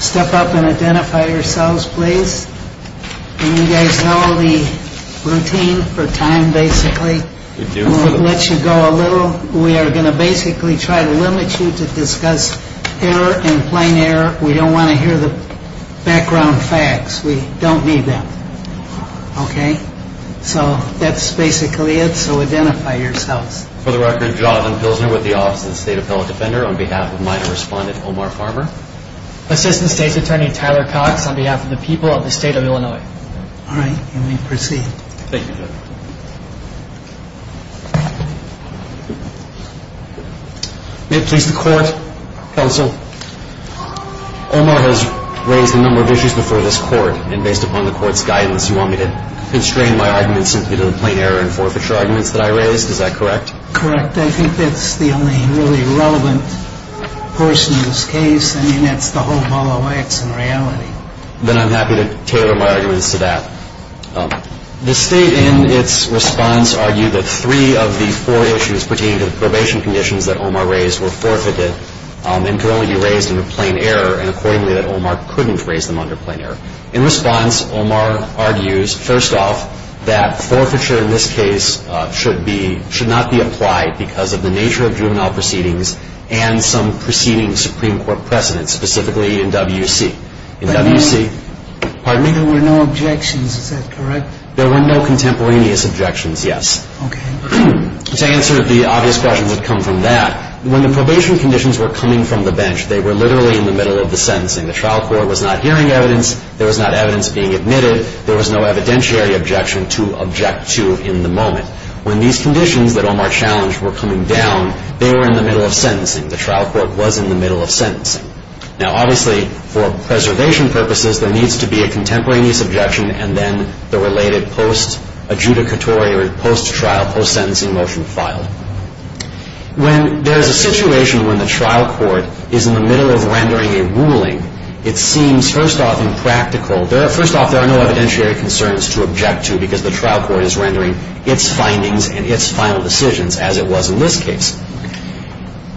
Step up and identify yourselves, please. You guys know the routine for time basically. We'll let you go a little. We are going to basically try to limit you to discuss error and plain error. We don't want to hear the background facts. We don't need that. Okay. So that's basically it. So identify yourselves. For the record, Jonathan Pilsner with the Office of the State Appellate Defender on behalf of minor respondent Omar Farmer. Assistant State's Attorney Tyler Cox on behalf of the people of the state of Illinois. All right. You may proceed. Thank you. May it please the court, counsel. Omar has raised a number of issues before this court. And based upon the court's guidance, you want me to constrain my arguments into the plain error and forfeiture arguments that I raised. Is that correct? Correct. I think that's the only really relevant person in this case. I mean, that's the whole ball of wax in reality. Then I'm happy to tailor my arguments to that. The state in its response argued that three of the four issues pertaining to the probation conditions that Omar raised were forfeited and can only be raised under plain error and accordingly that Omar couldn't raise them under plain error. In response, Omar argues, first off, that forfeiture in this case should not be applied because of the nature of juvenile proceedings and some preceding Supreme Court precedents, specifically in W.C. There were no objections. Is that correct? There were no contemporaneous objections, yes. Okay. To answer the obvious questions that come from that, when the probation conditions were coming from the bench, they were literally in the middle of the sentencing. The trial court was not hearing evidence. There was not evidence being admitted. There was no evidentiary objection to object to in the moment. When these conditions that Omar challenged were coming down, they were in the middle of sentencing. The trial court was in the middle of sentencing. Now, obviously, for preservation purposes, there needs to be a contemporaneous objection and then the related post-adjudicatory or post-trial, post-sentencing motion filed. When there is a situation when the trial court is in the middle of rendering a ruling, it seems, first off, impractical. First off, there are no evidentiary concerns to object to because the trial court is rendering its findings and its final decisions as it was in this case.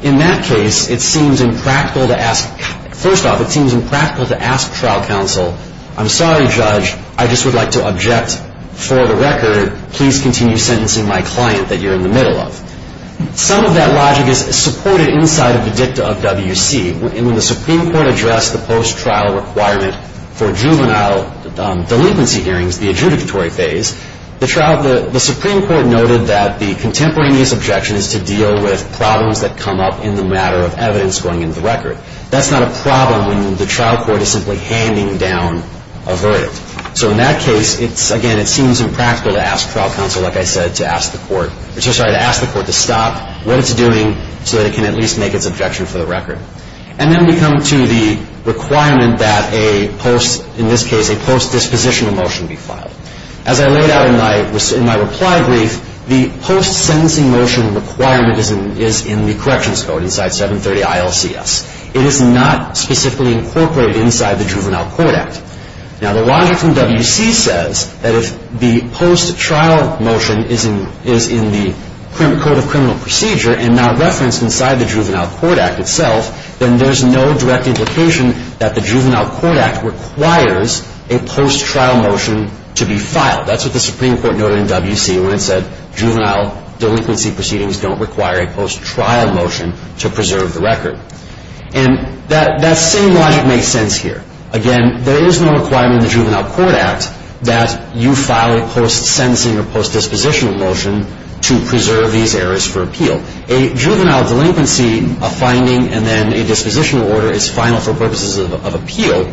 In that case, it seems impractical to ask, first off, it seems impractical to ask trial counsel, I'm sorry, Judge, I just would like to object for the record. Please continue sentencing my client that you're in the middle of. Some of that logic is supported inside of the dicta of WC. When the Supreme Court addressed the post-trial requirement for juvenile delinquency hearings, the adjudicatory phase, the Supreme Court noted that the contemporaneous objection is to deal with problems that come up in the matter of evidence going into the record. That's not a problem when the trial court is simply handing down a verdict. So in that case, it's, again, it seems impractical to ask trial counsel, like I said, to ask the court, I'm so sorry, to ask the court to stop what it's doing so that it can at least make its objection for the record. And then we come to the requirement that a post, in this case, a post-dispositional motion be filed. As I laid out in my reply brief, the post-sentencing motion requirement is in the corrections code, inside 730 ILCS. It is not specifically incorporated inside the Juvenile Court Act. Now, the logic from WC says that if the post-trial motion is in the Code of Criminal Procedure and not referenced inside the Juvenile Court Act itself, then there's no direct implication that the Juvenile Court Act requires a post-trial motion to be filed. That's what the Supreme Court noted in WC when it said juvenile delinquency proceedings don't require a post-trial motion to preserve the record. And that same logic makes sense here. Again, there is no requirement in the Juvenile Court Act that you file a post-sentencing or post-dispositional motion to preserve these areas for appeal. A juvenile delinquency, a finding, and then a dispositional order is final for purposes of appeal,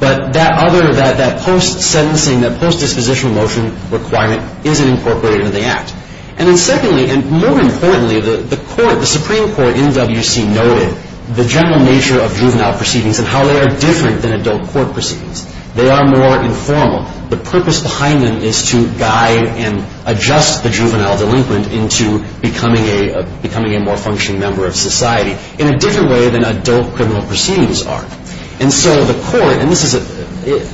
but that other, that post-sentencing, that post-dispositional motion requirement isn't incorporated in the Act. And then secondly, and more importantly, the Supreme Court in WC noted the general nature of juvenile proceedings and how they are different than adult court proceedings. They are more informal. The purpose behind them is to guide and adjust the juvenile delinquent into becoming a more functioning member of society in a different way than adult criminal proceedings are. And so the Court, and this is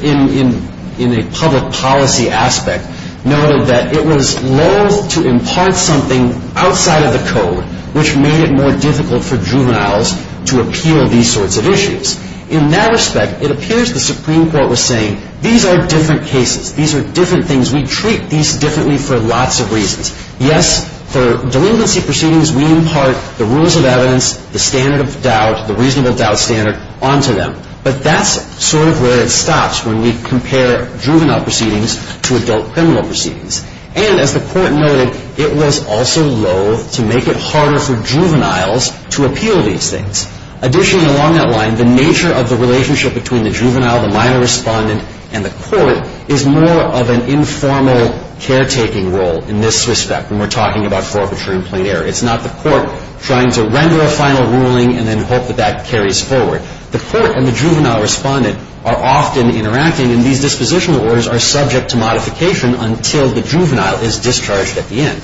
in a public policy aspect, noted that it was lawful to impart something outside of the code which made it more difficult for juveniles to appeal these sorts of issues. In that respect, it appears the Supreme Court was saying these are different cases. These are different things. We treat these differently for lots of reasons. Yes, for delinquency proceedings, we impart the rules of evidence, the standard of doubt, the reasonable doubt standard onto them. But that's sort of where it stops when we compare juvenile proceedings to adult criminal proceedings. And as the Court noted, it was also lawful to make it harder for juveniles to appeal these things. Additionally, along that line, the nature of the relationship between the juvenile, the minor respondent, and the Court is more of an informal caretaking role in this respect when we're talking about forfeiture and plain error. It's not the Court trying to render a final ruling and then hope that that carries forward. The Court and the juvenile respondent are often interacting, and these dispositional orders are subject to modification until the juvenile is discharged at the end.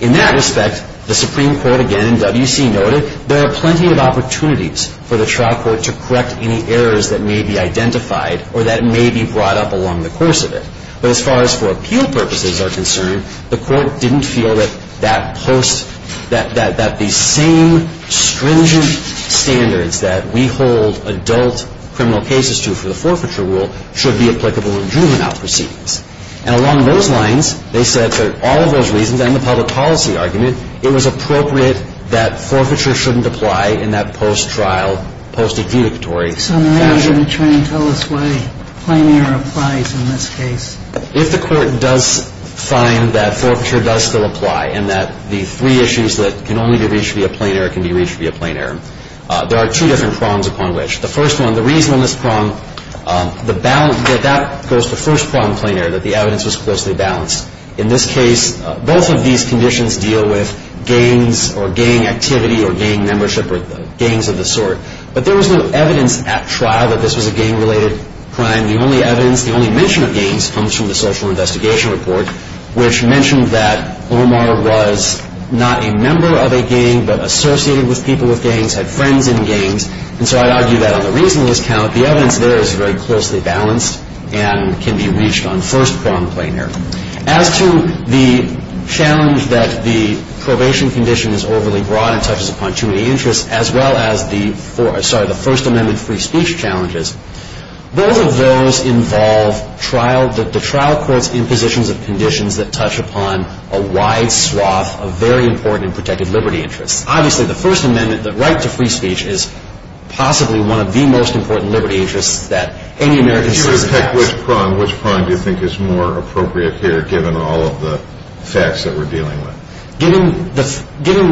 In that respect, the Supreme Court again in W.C. noted there are plenty of opportunities for the trial court to correct any errors that may be identified or that may be brought up along the course of it. But as far as for appeal purposes are concerned, the Court didn't feel that that post, that the same stringent standards that we hold adult criminal cases to for the forfeiture rule should be applicable in juvenile proceedings. And along those lines, they said for all of those reasons and the public policy argument, it was appropriate that forfeiture shouldn't apply in that post-trial, post-adjudicatory fashion. So now you're going to try and tell us why plain error applies in this case. If the Court does find that forfeiture does still apply and that the three issues that can only be reached via plain error can be reached via plain error, there are two different prongs upon which. The first one, the reason on this prong, the balance, that goes to the first prong, plain error, that the evidence was closely balanced. In this case, both of these conditions deal with gangs or gang activity or gang membership or gangs of the sort. But there was no evidence at trial that this was a gang-related crime. The only evidence, the only mention of gangs comes from the Social Investigation Report, which mentioned that Omar was not a member of a gang but associated with people with gangs, had friends in gangs. And so I'd argue that on the reason on this count, the evidence there is very closely balanced and can be reached on first prong, plain error. As to the challenge that the probation condition is overly broad and touches upon too many interests, as well as the First Amendment free speech challenges, both of those involve the trial courts in positions of conditions that touch upon a wide swath of very important and protected liberty interests. Obviously, the First Amendment, the right to free speech, is possibly one of the most important liberty interests that any American citizen has. If you were to pick which prong, which prong do you think is more appropriate here, given all of the facts that we're dealing with? Given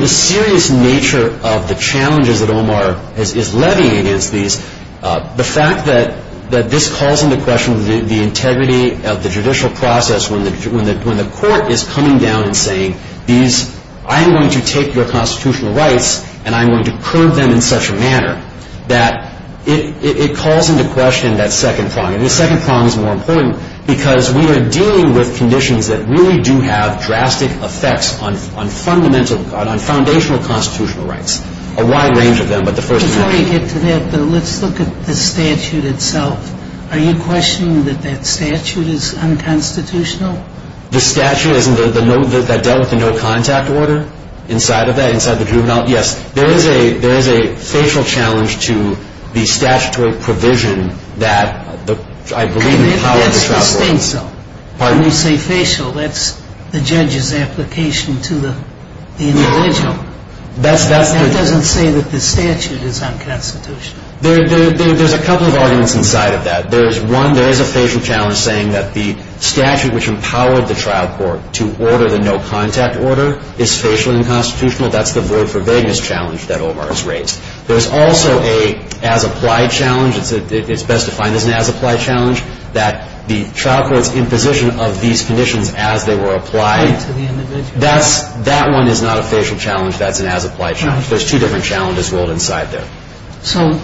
the serious nature of the challenges that Omar is levying against these, the fact that this calls into question the integrity of the judicial process when the court is coming down and saying, I'm going to take your constitutional rights and I'm going to curb them in such a manner that it calls into question that second prong. And the second prong is more important because we are dealing with conditions that really do have drastic effects on foundational constitutional rights, a wide range of them, but the First Amendment. Before we get to that, though, let's look at the statute itself. Are you questioning that that statute is unconstitutional? The statute that dealt with the no contact order? Inside of that, inside the juvenile? Yes. There is a facial challenge to the statutory provision that I believe empowers the child. That's the state, though. When you say facial, that's the judge's application to the individual. No. That doesn't say that the statute is unconstitutional. There's a couple of arguments inside of that. There is a facial challenge saying that the statute which empowered the trial court to order the no contact order is facial and unconstitutional. That's the void for vagueness challenge that Omar has raised. There's also an as-applied challenge. It's best defined as an as-applied challenge, that the trial court's imposition of these conditions as they were applied, that one is not a facial challenge. That's an as-applied challenge. There's two different challenges rolled inside there. So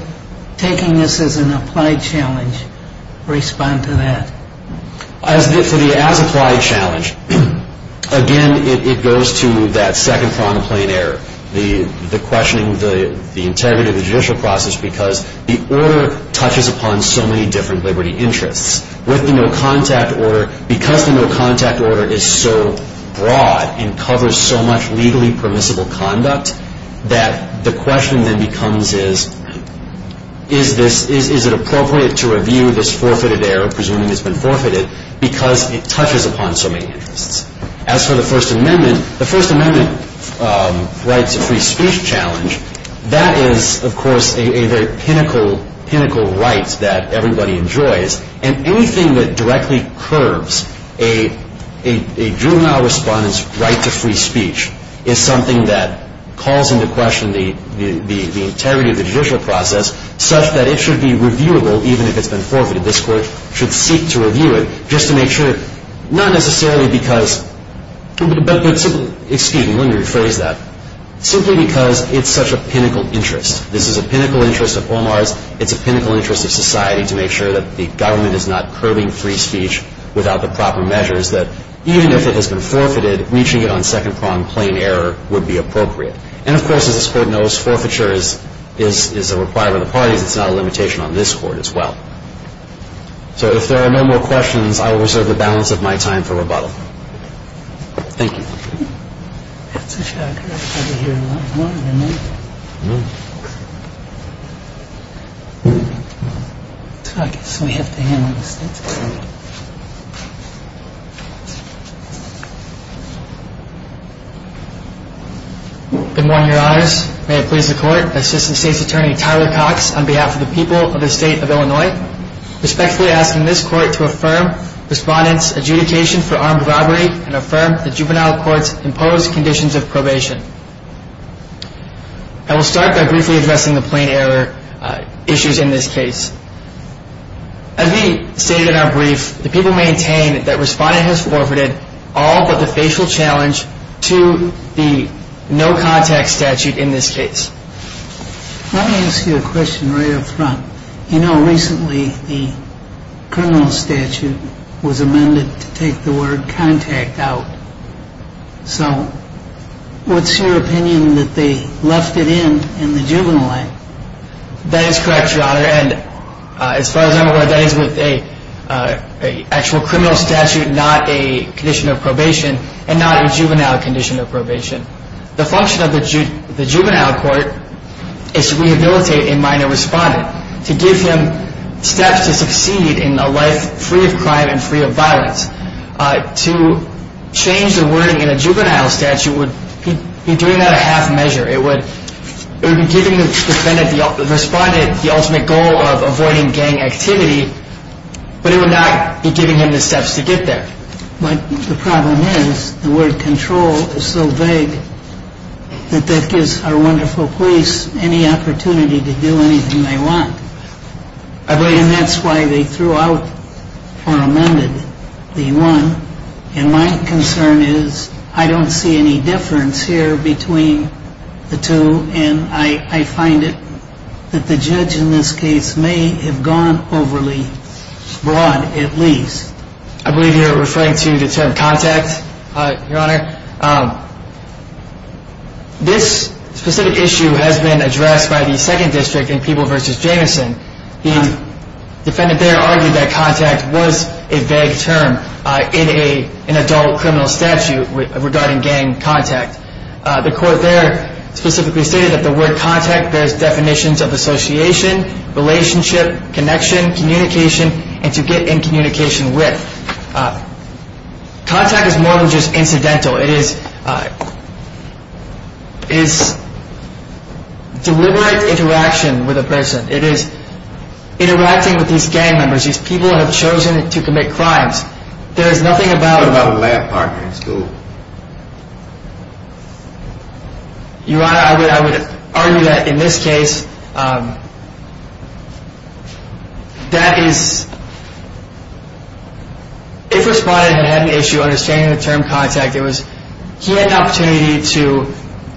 taking this as an applied challenge, respond to that. For the as-applied challenge, again, it goes to that second prong of plain error, the questioning the integrity of the judicial process because the order touches upon so many different liberty interests. With the no contact order, because the no contact order is so broad and covers so much legally permissible conduct, that the question then becomes is, is it appropriate to review this forfeited error, presuming it's been forfeited, because it touches upon so many interests. As for the First Amendment, the First Amendment right to free speech challenge, that is, of course, a very pinnacle right that everybody enjoys. And anything that directly curbs a juvenile respondent's right to free speech is something that calls into question the integrity of the judicial process such that it should be reviewable even if it's been forfeited. This Court should seek to review it just to make sure, not necessarily because, excuse me, let me rephrase that, simply because it's such a pinnacle interest. This is a pinnacle interest of Omar's. It's a pinnacle interest of society to make sure that the government is not curbing free speech without the proper measures that, even if it has been forfeited, reaching it on second prong plain error would be appropriate. And, of course, as this Court knows, forfeiture is a requirement of the parties. It's not a limitation on this Court as well. So if there are no more questions, I will reserve the balance of my time for rebuttal. Thank you. That's a shocker. I thought we'd hear a lot more than that. I know. So I guess we have to handle this. Good morning, Your Honors. May it please the Court. Assistant State's Attorney Tyler Cox, on behalf of the people of the State of Illinois, respectfully asking this Court to affirm respondent's adjudication for armed robbery and affirm the juvenile court's imposed conditions of probation. I will start by briefly addressing the plain error issues in this case. As we stated in our brief, the people maintain that respondent has forfeited all but the facial challenge to the no-contact statute in this case. Let me ask you a question right up front. You know, recently the criminal statute was amended to take the word contact out. So what's your opinion that they left it in in the juvenile act? That is correct, Your Honor. And as far as I'm aware, that is with an actual criminal statute, not a condition of probation, and not a juvenile condition of probation. The function of the juvenile court is to rehabilitate a minor respondent, to give him steps to succeed in a life free of crime and free of violence. To change the wording in a juvenile statute would be doing that at half measure. It would be giving the respondent the ultimate goal of avoiding gang activity, but it would not be giving him the steps to get there. But the problem is the word control is so vague that that gives our wonderful police any opportunity to do anything they want. And that's why they threw out or amended the one. And my concern is I don't see any difference here between the two, and I find it that the judge in this case may have gone overly broad at least. I believe you're referring to the term contact, Your Honor. This specific issue has been addressed by the second district in People v. Jameson. The defendant there argued that contact was a vague term in an adult criminal statute regarding gang contact. The court there specifically stated that the word contact bears definitions of association, relationship, connection, communication, and to get in communication with. Contact is more than just incidental. It is deliberate interaction with a person. It is interacting with these gang members, these people who have chosen to commit crimes. There is nothing about a lab partner in school. Your Honor, I would argue that in this case, that is, if a respondent had an issue understanding the term contact, it was he had an opportunity to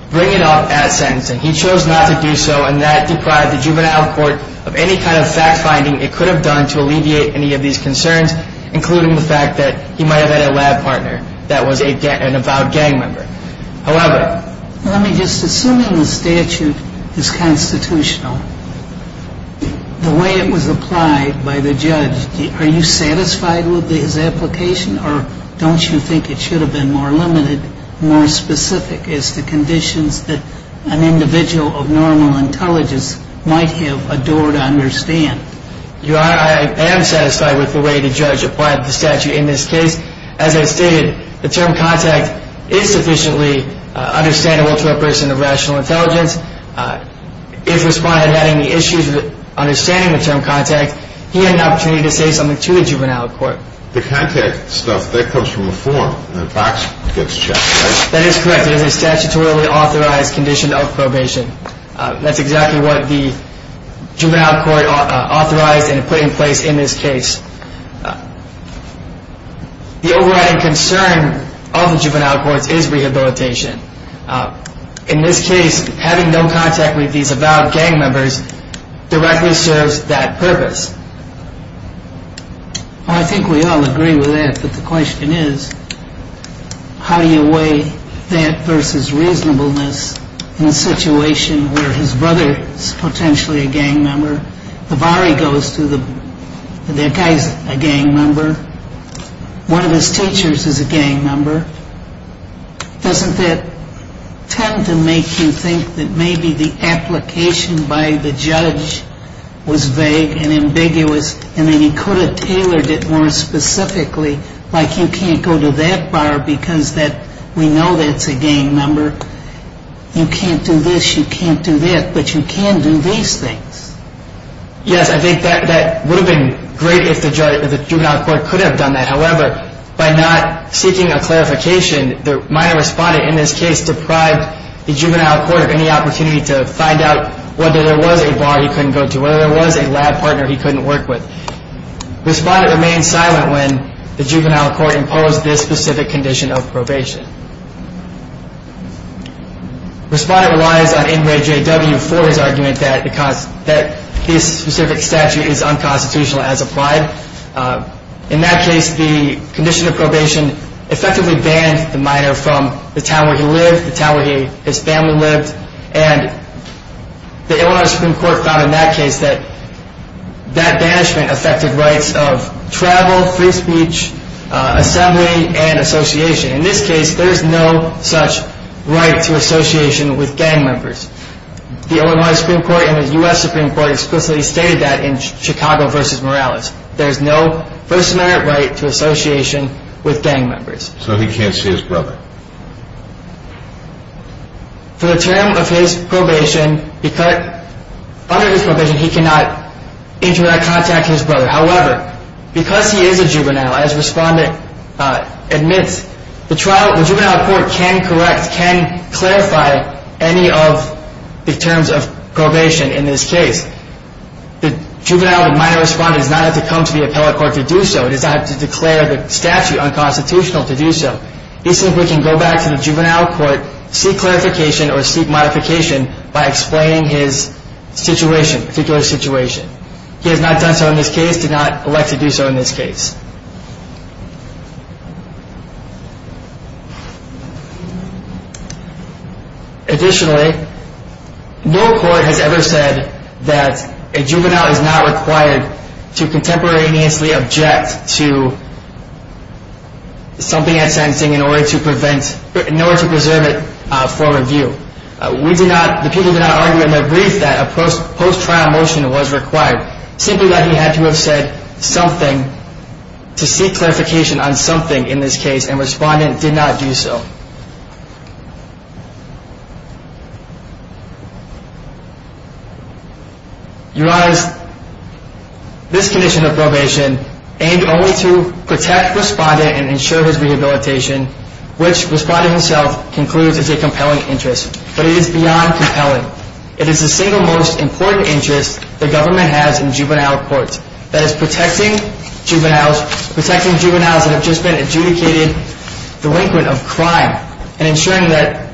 bring it up at sentencing. He chose not to do so, and that deprived the juvenile court of any kind of fact-finding it could have done to alleviate any of these concerns, including the fact that he might have had a lab partner that was an avowed gang member. However... Let me just... Assuming the statute is constitutional, the way it was applied by the judge, are you satisfied with his application, or don't you think it should have been more limited, more specific as to conditions that an individual of normal intelligence might have adored to understand? Your Honor, I am satisfied with the way the judge applied the statute in this case. As I stated, the term contact is sufficiently understandable to a person of rational intelligence. If a respondent had any issues with understanding the term contact, he had an opportunity to say something to the juvenile court. The contact stuff, that comes from a form. The box gets checked, right? That is correct. It is a statutorily authorized condition of probation. That is exactly what the juvenile court authorized and put in place in this case. The overriding concern of the juvenile courts is rehabilitation. In this case, having no contact with these avowed gang members directly serves that purpose. I think we all agree with that, but the question is, how do you weigh that versus reasonableness in a situation where his brother is potentially a gang member, the bar he goes to, that guy is a gang member, one of his teachers is a gang member. Doesn't that tend to make you think that maybe the application by the judge was vague and ambiguous and that he could have tailored it more specifically, like you can't go to that bar because we know that is a gang member. You can't do this, you can't do that, but you can do these things. Yes, I think that would have been great if the juvenile court could have done that. However, by not seeking a clarification, my respondent in this case deprived the juvenile court of any opportunity to find out whether there was a bar he couldn't go to, whether there was a lab partner he couldn't work with. Respondent remained silent when the juvenile court imposed this specific condition of probation. Respondent relies on NRAJW for his argument that his specific statute is unconstitutional as applied. In that case, the condition of probation effectively banned the minor from the town where he lived, the town where his family lived, and the Illinois Supreme Court found in that case that that banishment affected rights of travel, free speech, assembly, and association. In this case, there is no such right to association with gang members. The Illinois Supreme Court and the U.S. Supreme Court explicitly stated that in Chicago v. Morales. There is no first-amendment right to association with gang members. So he can't see his brother. For the term of his probation, under this provision, he cannot interact or contact his brother. However, because he is a juvenile, as respondent admits, the juvenile court can correct, can clarify any of the terms of probation in this case. The juvenile minor respondent does not have to come to the appellate court to do so. He does not have to declare the statute unconstitutional to do so. He simply can go back to the juvenile court, seek clarification or seek modification by explaining his situation, particular situation. He has not done so in this case, did not elect to do so in this case. Additionally, no court has ever said that a juvenile is not required to contemporaneously object to something at sentencing in order to prevent, in order to preserve it for review. We do not, the people do not argue in their brief that a post-trial motion was required. Simply that he had to have said something to seek clarification on something in this case and respondent did not do so. Your Honor, this condition of probation aimed only to protect respondent and ensure his rehabilitation, which respondent himself concludes is a compelling interest. But it is beyond compelling. It is the single most important interest the government has in juvenile courts. That is protecting juveniles, protecting juveniles that have just been adjudicated delinquent of crime and ensuring that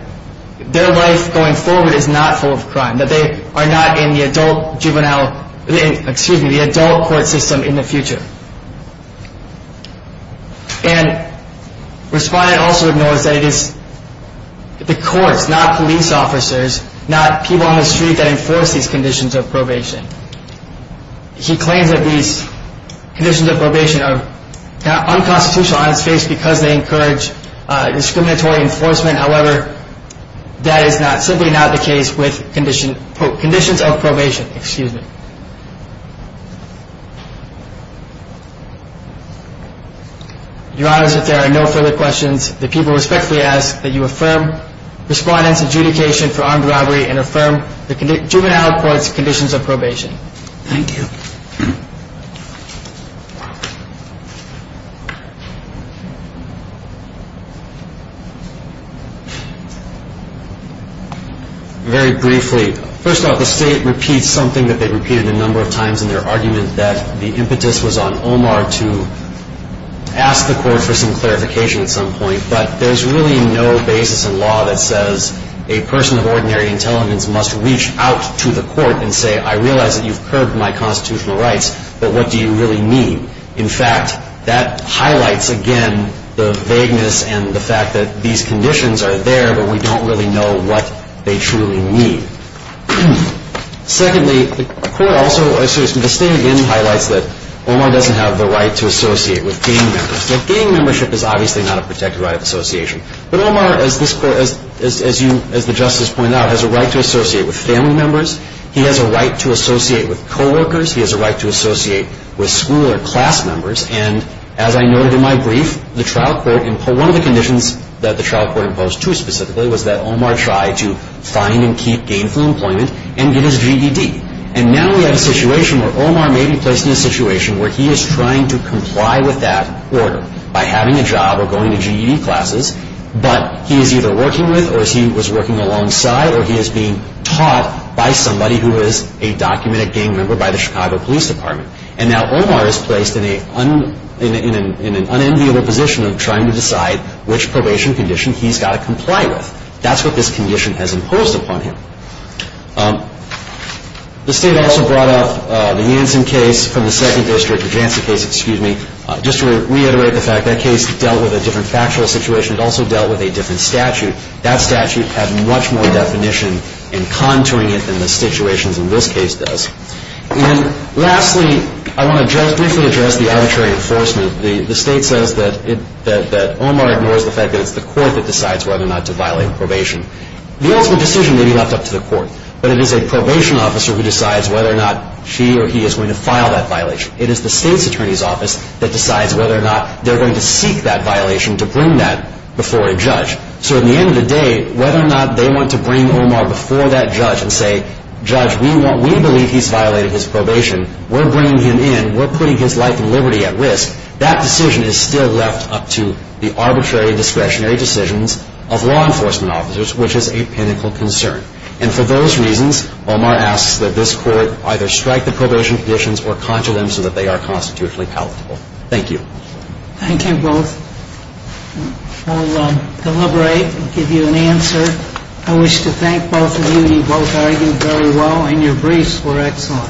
their life going forward is not full of crime. That they are not in the adult juvenile, excuse me, the adult court system in the future. And respondent also ignores that it is the courts, not police officers, not people on the street that enforce these conditions of probation. He claims that these conditions of probation are unconstitutional on its face because they encourage discriminatory enforcement. However, that is simply not the case with conditions of probation, excuse me. Your Honor, there are no further questions. The people respectfully ask that you affirm respondent's adjudication for armed robbery and affirm the juvenile court's conditions of probation. Thank you. Very briefly, first of all, the State repeats something that they repeated a number of times in their argument that the impetus was on Omar to ask the court for some clarification at some point. But there's really no basis in law that says a person of ordinary intelligence must reach out to the court and say I realize that you've curbed my constitutional rights, but what do you really mean? In fact, that highlights again the vagueness and the fact that these conditions are there, but we don't really know what they truly mean. Secondly, the court also, excuse me, the State again highlights that Omar doesn't have the right to associate with gang members. Gang membership is obviously not a protected right of association. But Omar, as the Justice pointed out, has a right to associate with family members. He has a right to associate with coworkers. He has a right to associate with school or class members. And as I noted in my brief, one of the conditions that the trial court imposed too specifically was that Omar try to find and keep gainful employment and get his GED. And now we have a situation where Omar may be placed in a situation where he is trying to comply with that order by having a job or going to GED classes, but he is either working with or he was working alongside or he is being taught by somebody who is a documented gang member by the Chicago Police Department. And now Omar is placed in an unenviable position of trying to decide which probation condition he's got to comply with. That's what this condition has imposed upon him. The State also brought up the Hansen case from the second district, the Jansen case, excuse me, just to reiterate the fact that case dealt with a different factual situation. It also dealt with a different statute. That statute had much more definition in contouring it than the situations in this case does. And lastly, I want to just briefly address the arbitrary enforcement. The State says that Omar ignores the fact that it's the court that decides whether or not to violate probation. The ultimate decision may be left up to the court, but it is a probation officer who decides whether or not she or he is going to file that violation. It is the State's attorney's office that decides whether or not they're going to seek that violation to bring that before a judge. So at the end of the day, whether or not they want to bring Omar before that judge and say, Judge, we believe he's violated his probation. We're bringing him in. We're putting his life and liberty at risk. That decision is still left up to the arbitrary discretionary decisions of law enforcement officers, which is a pinnacle concern. And for those reasons, Omar asks that this court either strike the probation conditions or conjure them so that they are constitutionally palatable. Thank you. Thank you both. We'll deliberate and give you an answer. I wish to thank both of you. You both argued very well, and your briefs were excellent. Thank you.